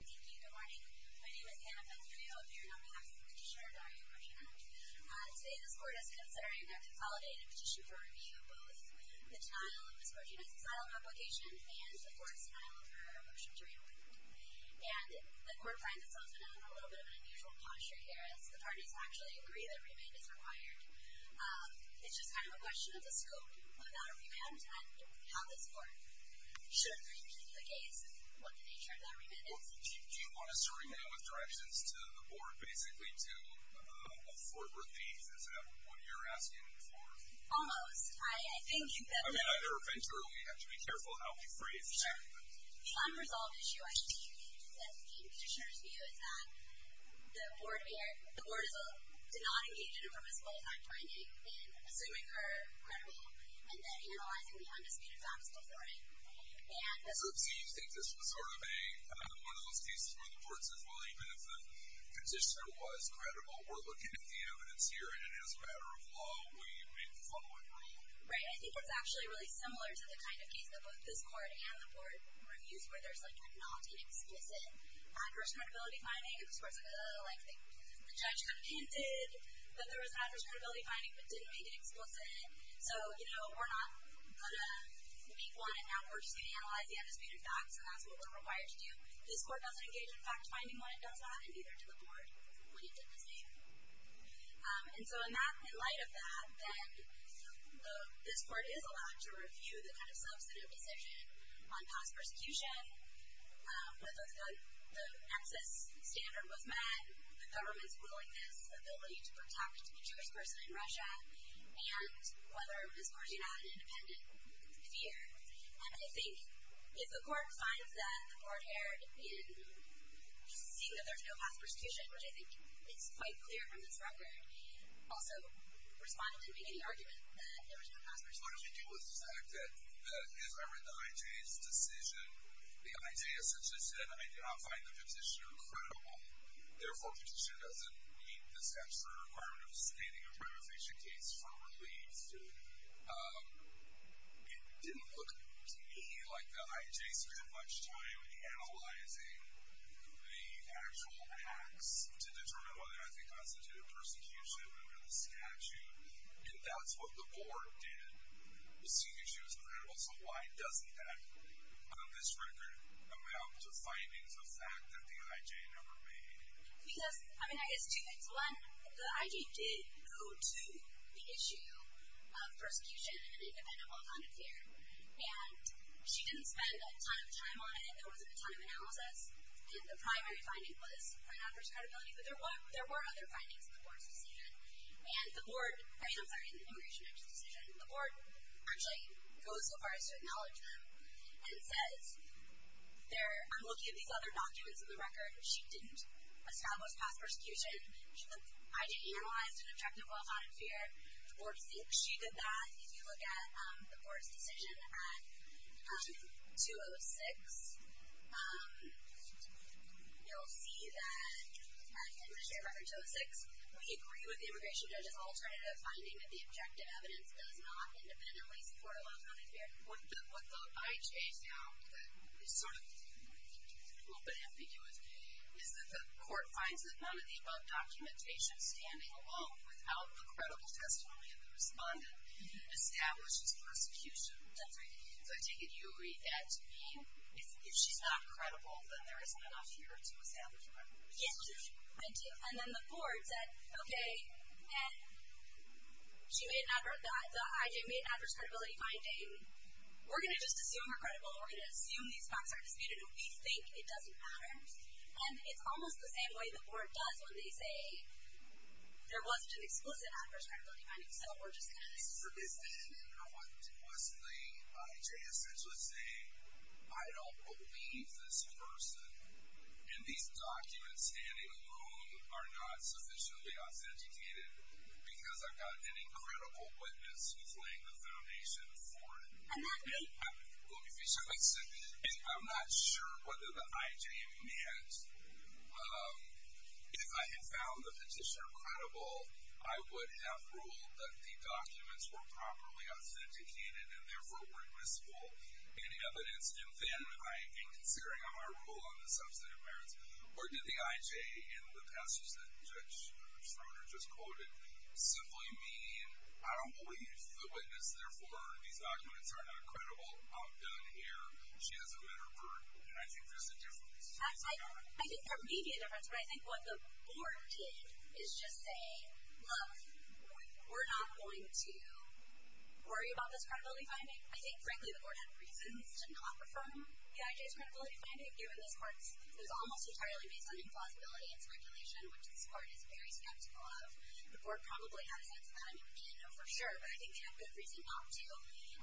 Thank you, good morning. My name is Hannah Vendrio. I'm here on behalf of Petitioner Daria Korzhina. Today, this Court is considering a consolidated petition for review of both the denial of Ms. Korzhina's asylum application and the court's denial of her motion to re-appoint. And the Court finds itself in a little bit of an unusual posture here, as the parties actually agree that remand is required. It's just kind of a question of the scope of that remand and how this Court should review the case and what the nature of that remand is. Well, do you want us to remand with directions to the Board, basically, to afford relief? Is that what you're asking for? Almost. I think that... I mean, either eventually, or we have to be careful how we phrase that. The unresolved issue, I think, in Petitioner's view, is that the Board did not engage in a permissible effect finding, in assuming her credible, and then analyzing the undisputed facts before it. So you think this was sort of one of those cases where the Court says, well, even if the Petitioner was credible, we're looking at the evidence here, and as a matter of law, we make the following rule. Right, I think it's actually really similar to the kind of case that both this Court and the Board reviewed, where there's like a not-explicit adverse credibility finding. This Court's like, ugh, the judge could have hinted that there was an adverse credibility finding, but didn't make it explicit. So, you know, we're not going to make one, and now we're just going to analyze the undisputed facts, and that's what we're required to do. This Court doesn't engage in fact-finding when it does not, and neither does the Board when it did the same. And so in light of that, then, this Court is allowed to review the kind of substantive decision on past persecution, whether the nexus standard was met, the government's willingness, ability to protect a Jewish person in Russia, and whether this Court did not have an independent fear. And I think if the Court finds that the Board here, in seeing that there's no past persecution, which I think is quite clear from this record, also responded to any argument that there was no past persecution. What we do with the fact that if I read the I.J.'s decision, the I.J. essentially said, I do not find the petitioner credible. Therefore, petitioner doesn't meet the statutory requirement of standing a privileged patient case for release. It didn't look to me like the I.J. spent much time analyzing the actual acts to determine whether or not they constituted persecution under the statute. And that's what the Board did, was see if she was credible. So why doesn't that, on this record, amount to findings of fact that the I.J. never made? Because, I mean, I guess two things. One, the I.J. did go to the issue of persecution and independent, well-founded fear. And she didn't spend a ton of time on it. There wasn't a ton of analysis. And the primary finding was not her credibility. But there were other findings in the Board's decision. And the Board, I mean, I'm sorry, in the immigration action decision, the Board actually goes so far as to acknowledge them and says, I'm looking at these other documents in the record. She didn't establish past persecution. The I.J. analyzed an objective, well-founded fear. The Board thinks she did that. If you look at the Board's decision at 206, you'll see that, in the history of Record 206, we agree with the immigration judge's alternative finding that the objective evidence does not independently support a well-founded fear. What the I.J. found that is sort of a little bit ambiguous is that the court finds that none of the above documentation, standing alone, without the credible testimony of the respondent, establishes persecution. That's right. So I take it you agree that if she's not credible, then there isn't enough fear to establish a record of persecution. Yes, I do. And then the Board said, okay, and the I.J. made an adverse credibility finding. We're going to just assume her credible, and we're going to assume these facts are disputed, and we think it doesn't matter. And it's almost the same way the Board does when they say there wasn't an explicit adverse credibility finding, so we're just going to assume that. What was the I.J. essentially saying? I don't believe this person, and these documents, standing alone, are not sufficiently authenticated because I've got an incredible witness who's laying the foundation for it. And that being? Let me finish. I'm not sure whether the I.J. and you had it. If I had found the petitioner credible, I would have ruled that the documents were properly authenticated and therefore were admissible in evidence. And then, I think, considering how I rule on the substantive merits, or did the I.J. in the passage that Judge Schroeder just quoted simply mean, I don't believe the witness, therefore these documents are not credible? I'm done here. She hasn't met her burden, and I think there's a difference. I think there may be a difference, but I think what the board did is just say, look, we're not going to worry about this credibility finding. I think, frankly, the board had reasons to not refer them. The I.J.'s credibility finding, given this part, is almost entirely based on implausibility and speculation, which this part is very skeptical of. The board probably had a sense of that. I mean, we can't know for sure, but I think they had good reason not to, and said, you know what, look, it's kind of like when there's not an explicit adverse credibility finding, we're just going to look at the undisputed facts. Go ahead and do that now. The point of the finding, coming back to it, is that when the stand finder doesn't believe the only witness who testified at the hearing, then it's in and of itself to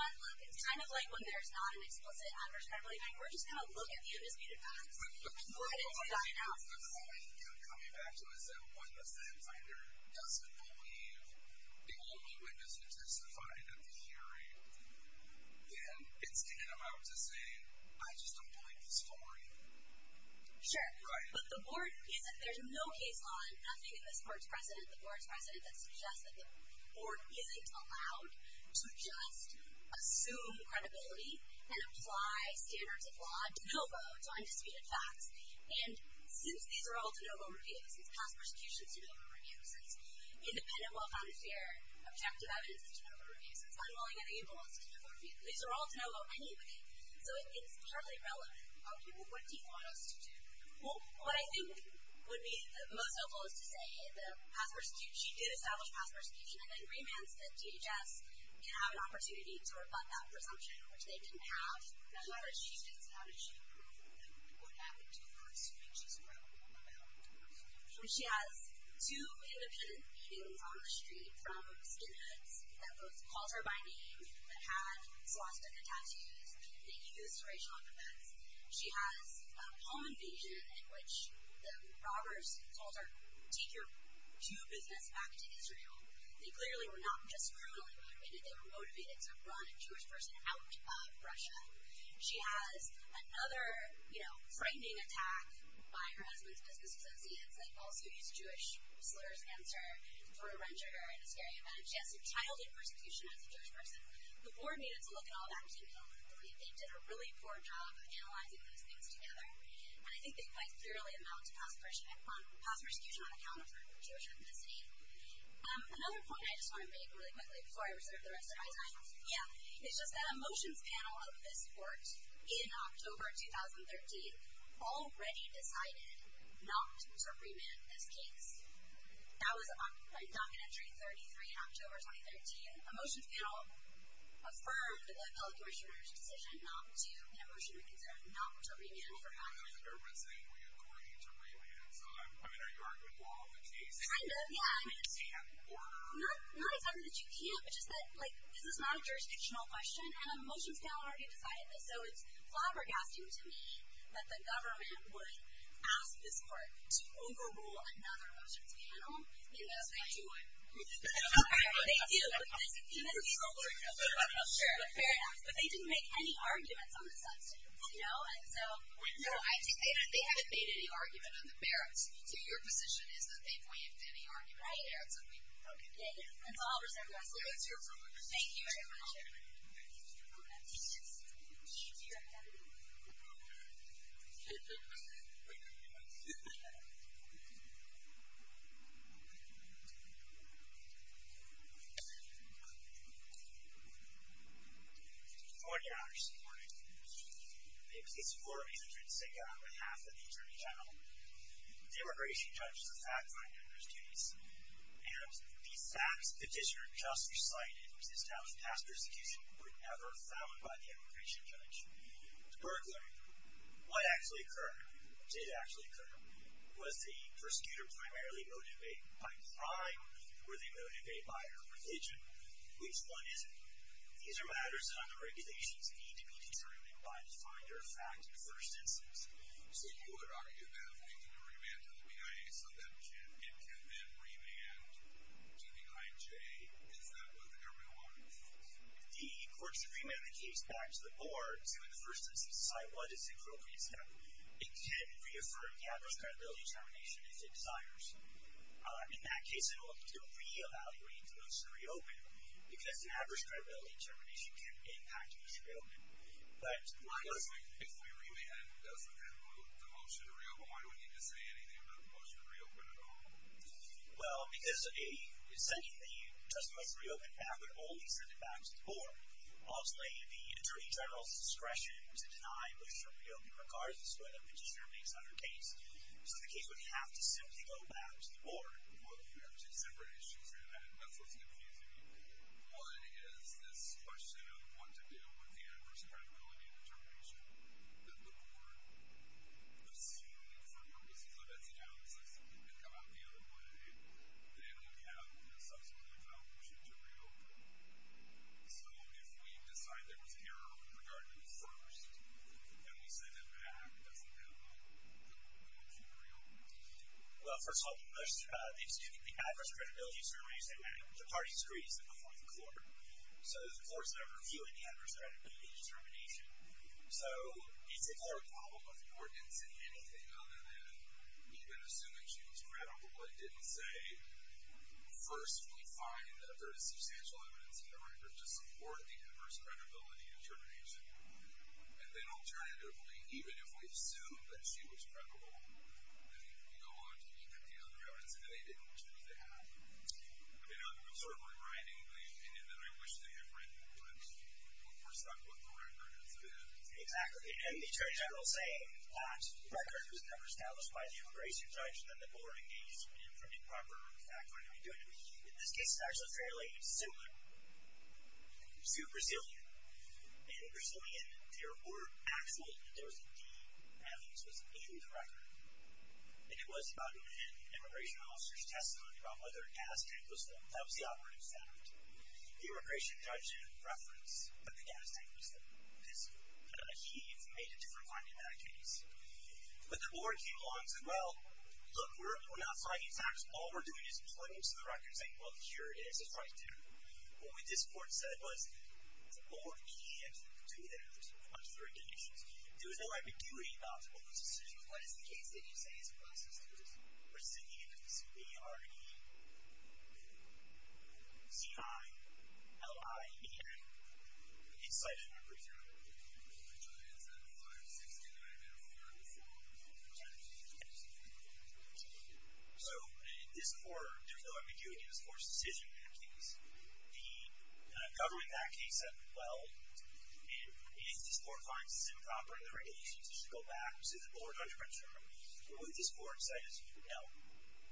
say, I just don't believe the story. Sure. Right. But the board isn't, there's no case law and nothing in this court's precedent, the board's precedent, that suggests that the board isn't allowed to just assume credibility and apply standards of law de novo to undisputed facts. And since these are all de novo reviews, it's past persecution de novo reviews, it's independent, well-founded, fair, objective evidence de novo reviews, it's unwilling and ableist de novo reviews, these are all de novo anyway. So it's hardly relevant. Okay. Well, what do you want us to do? Well, what I think would be most helpful is to say the past persecution, she did establish past persecution, and then remands that DHS can have an opportunity to rebut that presumption, which they didn't have. How did she do that? What happened to her speeches? What happened to her speeches? She has two independent meetings on the street from skinheads that both called her by name, that had swastika tattoos, that used racial offense. She has a home invasion in which the robbers told her, take your business back to Israel. They clearly were not just criminal, they were motivated to run a Jewish person out of Russia. She has another, you know, frightening attack by her husband's business associates, that also used Jewish slurs against her, sort of wrenched her in a scary event. She has some childhood persecution as a Jewish person. The board needed to look at all that material. I believe they did a really poor job of analyzing those things together, and I think they quite clearly amount to past persecution on account of her Jewish ethnicity. Another point I just want to make really quickly, before I reserve the rest of my time. Yeah. It's just that a motions panel of this court, in October 2013, already decided not to remand this case. That was on docket entry 33 in October 2013. A motions panel affirmed the public commissioner's decision not to, in a motion reconsidered, not to remand for documents. I mean, the government's saying we agree to remand, so I mean, are you arguing law of the case? Kind of, yeah. Not exactly that you can't, but just that this is not a jurisdictional question, and a motions panel already decided this, so it's flabbergasting to me that the government would ask this court to overrule another motions panel. Yes, they do. Fair enough. But they didn't make any arguments on the substance. No, they haven't made any argument on the merits. So your position is that they've waived any argument on the merits of remand? Right. Okay. Yeah, yeah. That's all for September 11th. So that's your ruling. Thank you very much. Thank you. Thank you. Thank you. Court is in order. The case is in order. The case is for Amanda Drensinka on behalf of the Attorney General. The Immigration Judge is a fact finder in this case, and the facts the petitioner just recited exist out of past persecution and were never found by the Immigration Judge. In particular, what actually occurred, or what did actually occur, was the prosecutor primarily motivated by crime, or they motivated by her religion? Which one is it? These are matters on the regulations that need to be determined by the finder of fact in the first instance. So you would argue that they need to remand to the BIA so that it can then remand to the IJ if that was everyone? The court should remand the case back to the board to, in the first instance, decide what is the appropriate step. It can reaffirm the average credibility determination if it desires. In that case, it will have to re-evaluate, because the average credibility determination can impact the motion to reopen. If we remand the motion to reopen, why do we need to say anything about the motion to reopen at all? Well, because sending the just motion to reopen back would only send it back to the board. Obviously, the Attorney General's discretion to deny the motion to reopen regards to whether the petitioner makes another case. So the case would have to simply go back to the board. Well, you have two separate issues here, and that's what's confusing. One is this question of what to do with the average credibility determination that the board assumed for purposes of its analysis that could come out the other way that it would have in a subsequent evaluation to reopen. So if we decide there was an error with regard to the first and we send it back, does it impact the motion to reopen? Well, first of all, there's the adverse credibility determination that the party disagrees with before the court. So the court's not reviewing the adverse credibility determination. So it's a board problem if the board didn't say anything other than even assuming she was credible, it didn't say, first, we find that there is substantial evidence in the record to support the adverse credibility determination. And then alternatively, even if we assume that she was credible, then we go on to look at the other evidence and they didn't choose to have it. I'm sort of rewriting the opinion that I wish they had written, but we're stuck with the record instead. Exactly, and the attorney general saying that record was never established by the immigration judge and then the board engaged in a proper fact-finding. We do it in this case, and it's fairly similar to Brazilian. In Brazilian, there were actual, there was indeed evidence that was in the record, and it was about an immigration officer's testimony about whether a gas tank was filled. That was the operative standard. The immigration judge referenced that the gas tank was filled, because he made a different finding in that case. But the board came along and said, well, look, we're not finding facts. All we're doing is pointing to the record and saying, well, here it is. It's right there. What this court said was the board can't do that unless there are conditions. There was no ambiguity about those decisions. What is the case that you say is a process that was rescinded in the suit? A-R-E-C-I-L-I-E-N. The incitement, for example. So in this court, there was no ambiguity in this court's decision in that case. The government in that case said, well, if this court finds this improper in the regulations, it should go back to the board under a term. What this court said is, you know,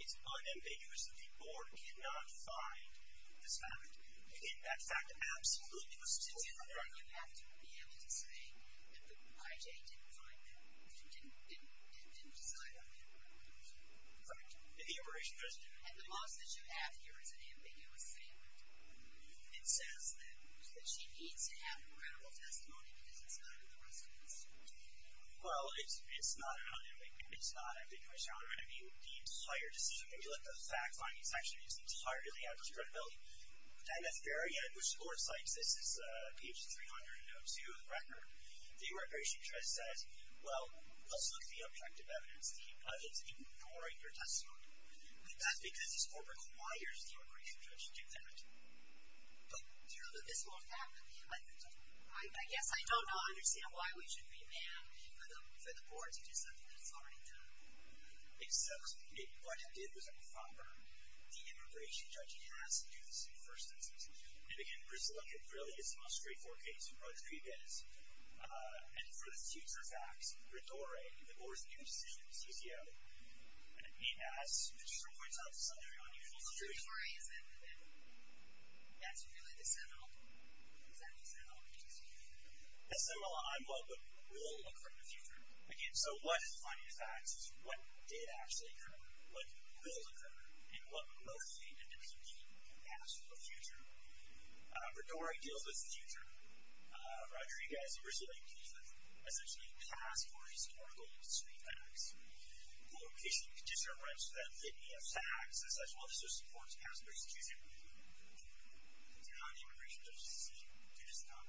it's unambiguous that the board cannot find this fact. And that fact absolutely was fulfilled. You have to be able to say that the I.J. didn't find that. It didn't decide on that. And the immigration judge didn't. And the loss that you have here is an ambiguous thing. It says that she needs to have a credible testimony because it's not in the rest of the suit. Well, it's not an ambiguity. It's not an ambiguity. I mean, the entire decision, if you look at the fact finding section, is entirely out of its credibility. And that's very good. This court's like, this is page 302 of the record. The immigration judge says, well, let's look at the objective evidence. It's ignoring your testimony. And that's because this court requires the immigration judge to do that. But do you know that this won't happen? I guess I don't understand why we should demand for the board to do something that's already done. Exactly. What it did was, on the front burner, the immigration judge has to do the suit, for instance. And, again, for us to look at, really, it's the most straightforward case, Rodriguez. And for the suits or facts, Ritore, the board's new decision, CCO, he has to point something out that's unusual. The truth of the story is that that's really the seminal, in fact, the seminal case. The seminal on what will occur in the future. Again, so what is the finding of facts? It's what did actually occur, what will occur, and what most independent people can ask for the future. Ritore deals with the future. Rodriguez originally deals with, essentially, past or historical street facts. The location, the condition of rents, the fitting of taxes, as well as those supports past or excusing people. So how did the immigration judge's decision do this job?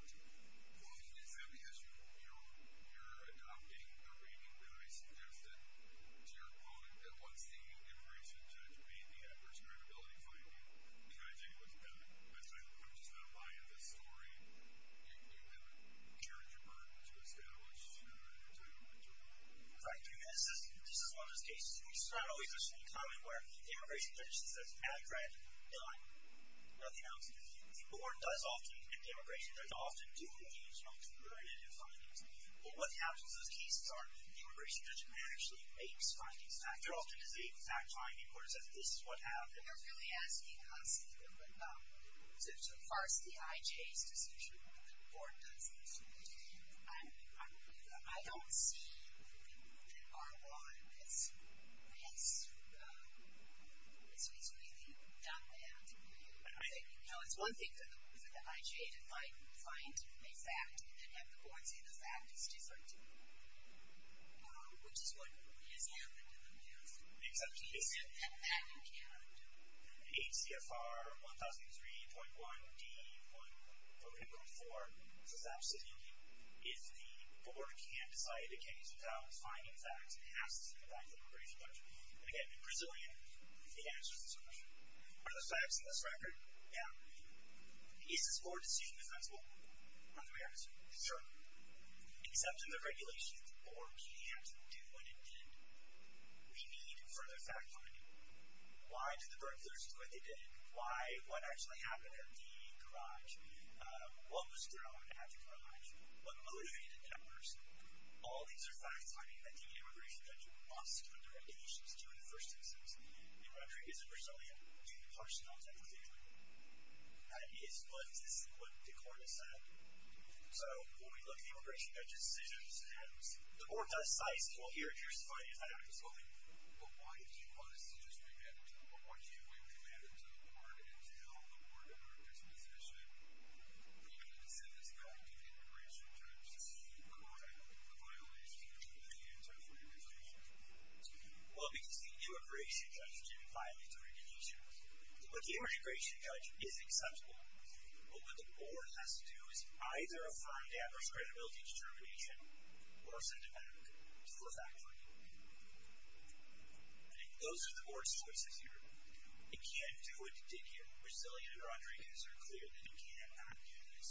Well, he did that because you're adopting a reading that I suggested to your opponent that wants the immigration judge to meet the adverse credibility finding. And I think it was done. I'm just not buying this story. You have a character burden to establish, and I'm not going to tell you what Ritore did. Right. This is one of those cases, which is not always the same comment, where the immigration judge just says, I read, done, nothing else. The board does often, and the immigration judge often do engage in alternative findings. But what happens in those cases are, the immigration judge actually makes findings. That often is a fact-finding where it says, this is what happened. They're really asking us to parse the IJ's decision rather than the board does. I don't see that R1 has really done that. No, it's one thing for the IJ to find a fact and then have the board say the fact is 232, which is what has happened in the past. And that you cannot do. HCFR 1003.1 D.4.4 is the board can't decide, it can't use a valid finding fact, it has to see the fact of the immigration judge. And again, in Brazilian, it answers this question. Are the facts in this record? Yeah. Is this board decision defensible? On the reality? Sure. Except in the regulations, the board can't do what it did. We need further fact-finding. Why did the burglars do what they did? Why, what actually happened at the garage? What was thrown at the garage? What motivated the burglars? All these are facts finding that the immigration judge must, under regulations, do in the first instance. The record is in Brazilian, do the parsonals have a fingerprint? That is what the court has said. So, when we look at the immigration judge's decisions, the board does size people here and here's the finding of that act of bullying. But why did you want us to just bring that to the board? Why did you bring the matter to the board and tell the board at our disposition we wanted to send this back to the immigration judge to correct the violations of the anti-fraud legislation? Well, because the immigration judge didn't violate the regulations. What the immigration judge is acceptable, but what the board has to do is either affirm the adverse credibility determination or send it back to the fact-finding. Those are the board's choices here. It can't do what it did here. Brazilian and Rodriguez are clear that it can't do this.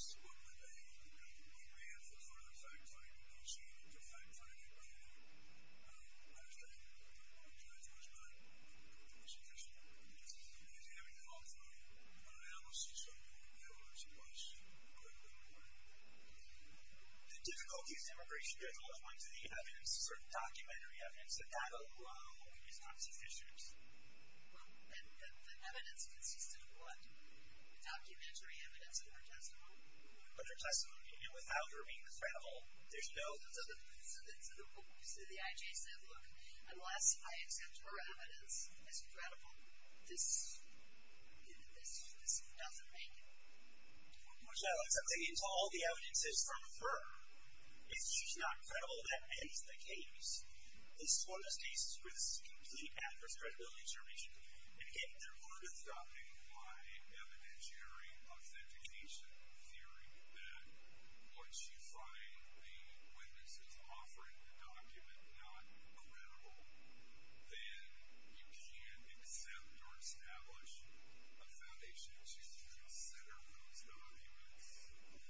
The difficulties of immigration judge all point to the evidence, certain documentary evidence, that that alone is not sufficient. And the evidence consists of what? Documentary evidence and her testimony. But her testimony, even without her being credible, there's no... So the IJ said, look, unless I accept her evidence as credible, this doesn't make it. Michelle, it's something until all the evidence is from her. If she's not credible, that ends the case. This is one of those cases where this is complete adverse credibility determination.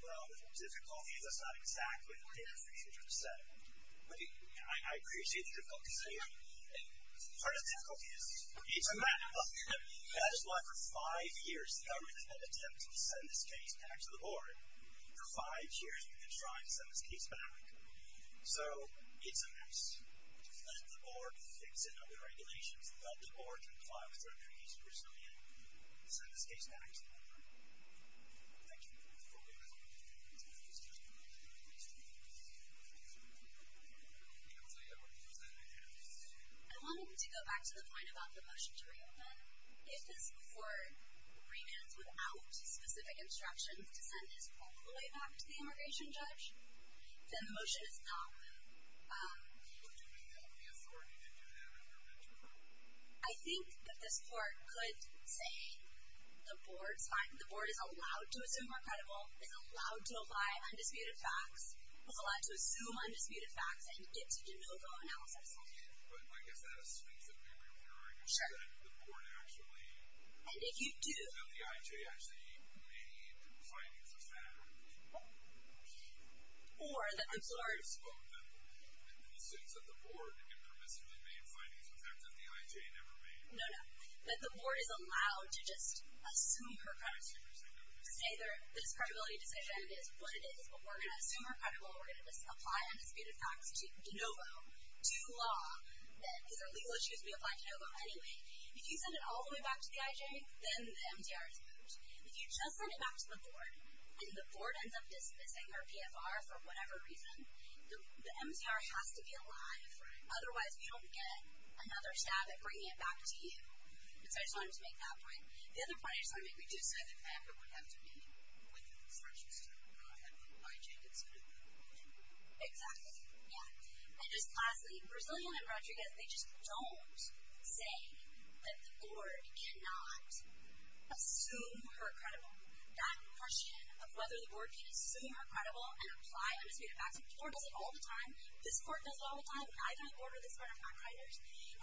Well, the difficulty is that's not exactly what the immigration judge said. I appreciate your focus here. Part of the difficulty is it's a matter of... That is why for five years, the government has had attempts to send this case back to the board. For five years, we've been trying to send this case back. So it's a mess. Let the board fix it under regulations. Let the board comply with their treaties in Brazilian and send this case back to the government. Thank you. I wanted to go back to the point about the motion to reopen. If this court remands without specific instructions to send his employee back to the immigration judge, then the motion is not... I think that this court could say, the board's fine. The board is allowed to assume we're credible. It's allowed to apply undisputed facts. It's allowed to assume undisputed facts and get to de novo analysis. And if you do... Or that the board... No, no. That the board is allowed to just assume her credibility. To say this credibility decision is what it is, but we're going to assume her credibility. We're going to apply undisputed facts de novo to law. These are legal issues. We apply de novo anyway. If you send it all the way back to the IJ, then the MCR is moved. If you just send it back to the board and the board ends up dismissing our PFR for whatever reason, the MCR has to be alive. Otherwise, we don't get another stab at bringing it back to you. So I just wanted to make that point. The other point I just wanted to make, we do say the fact it would have to be within the discretion of the IJ to do that. Exactly. Yeah. And just lastly, Brazilian and Rodriguez, they just don't say that the board cannot assume her credibility. That question of whether the board can assume her credibility and apply undisputed facts... The board does it all the time. This court does it all the time. And I've been on the board of this court. I'm not a writer.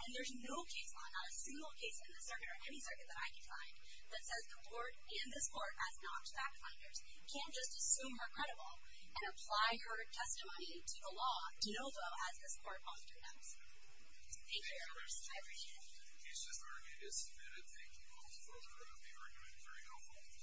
And there's no case law, not a single case in this circuit or any circuit that I can find, that says the board and this court, as not fact finders, can't just assume her credible and apply her testimony to the law, de novo, as this court often does. Thank you very much. I appreciate it. He's just arguing it's undisputed. Thank you both for the argument. It was very helpful.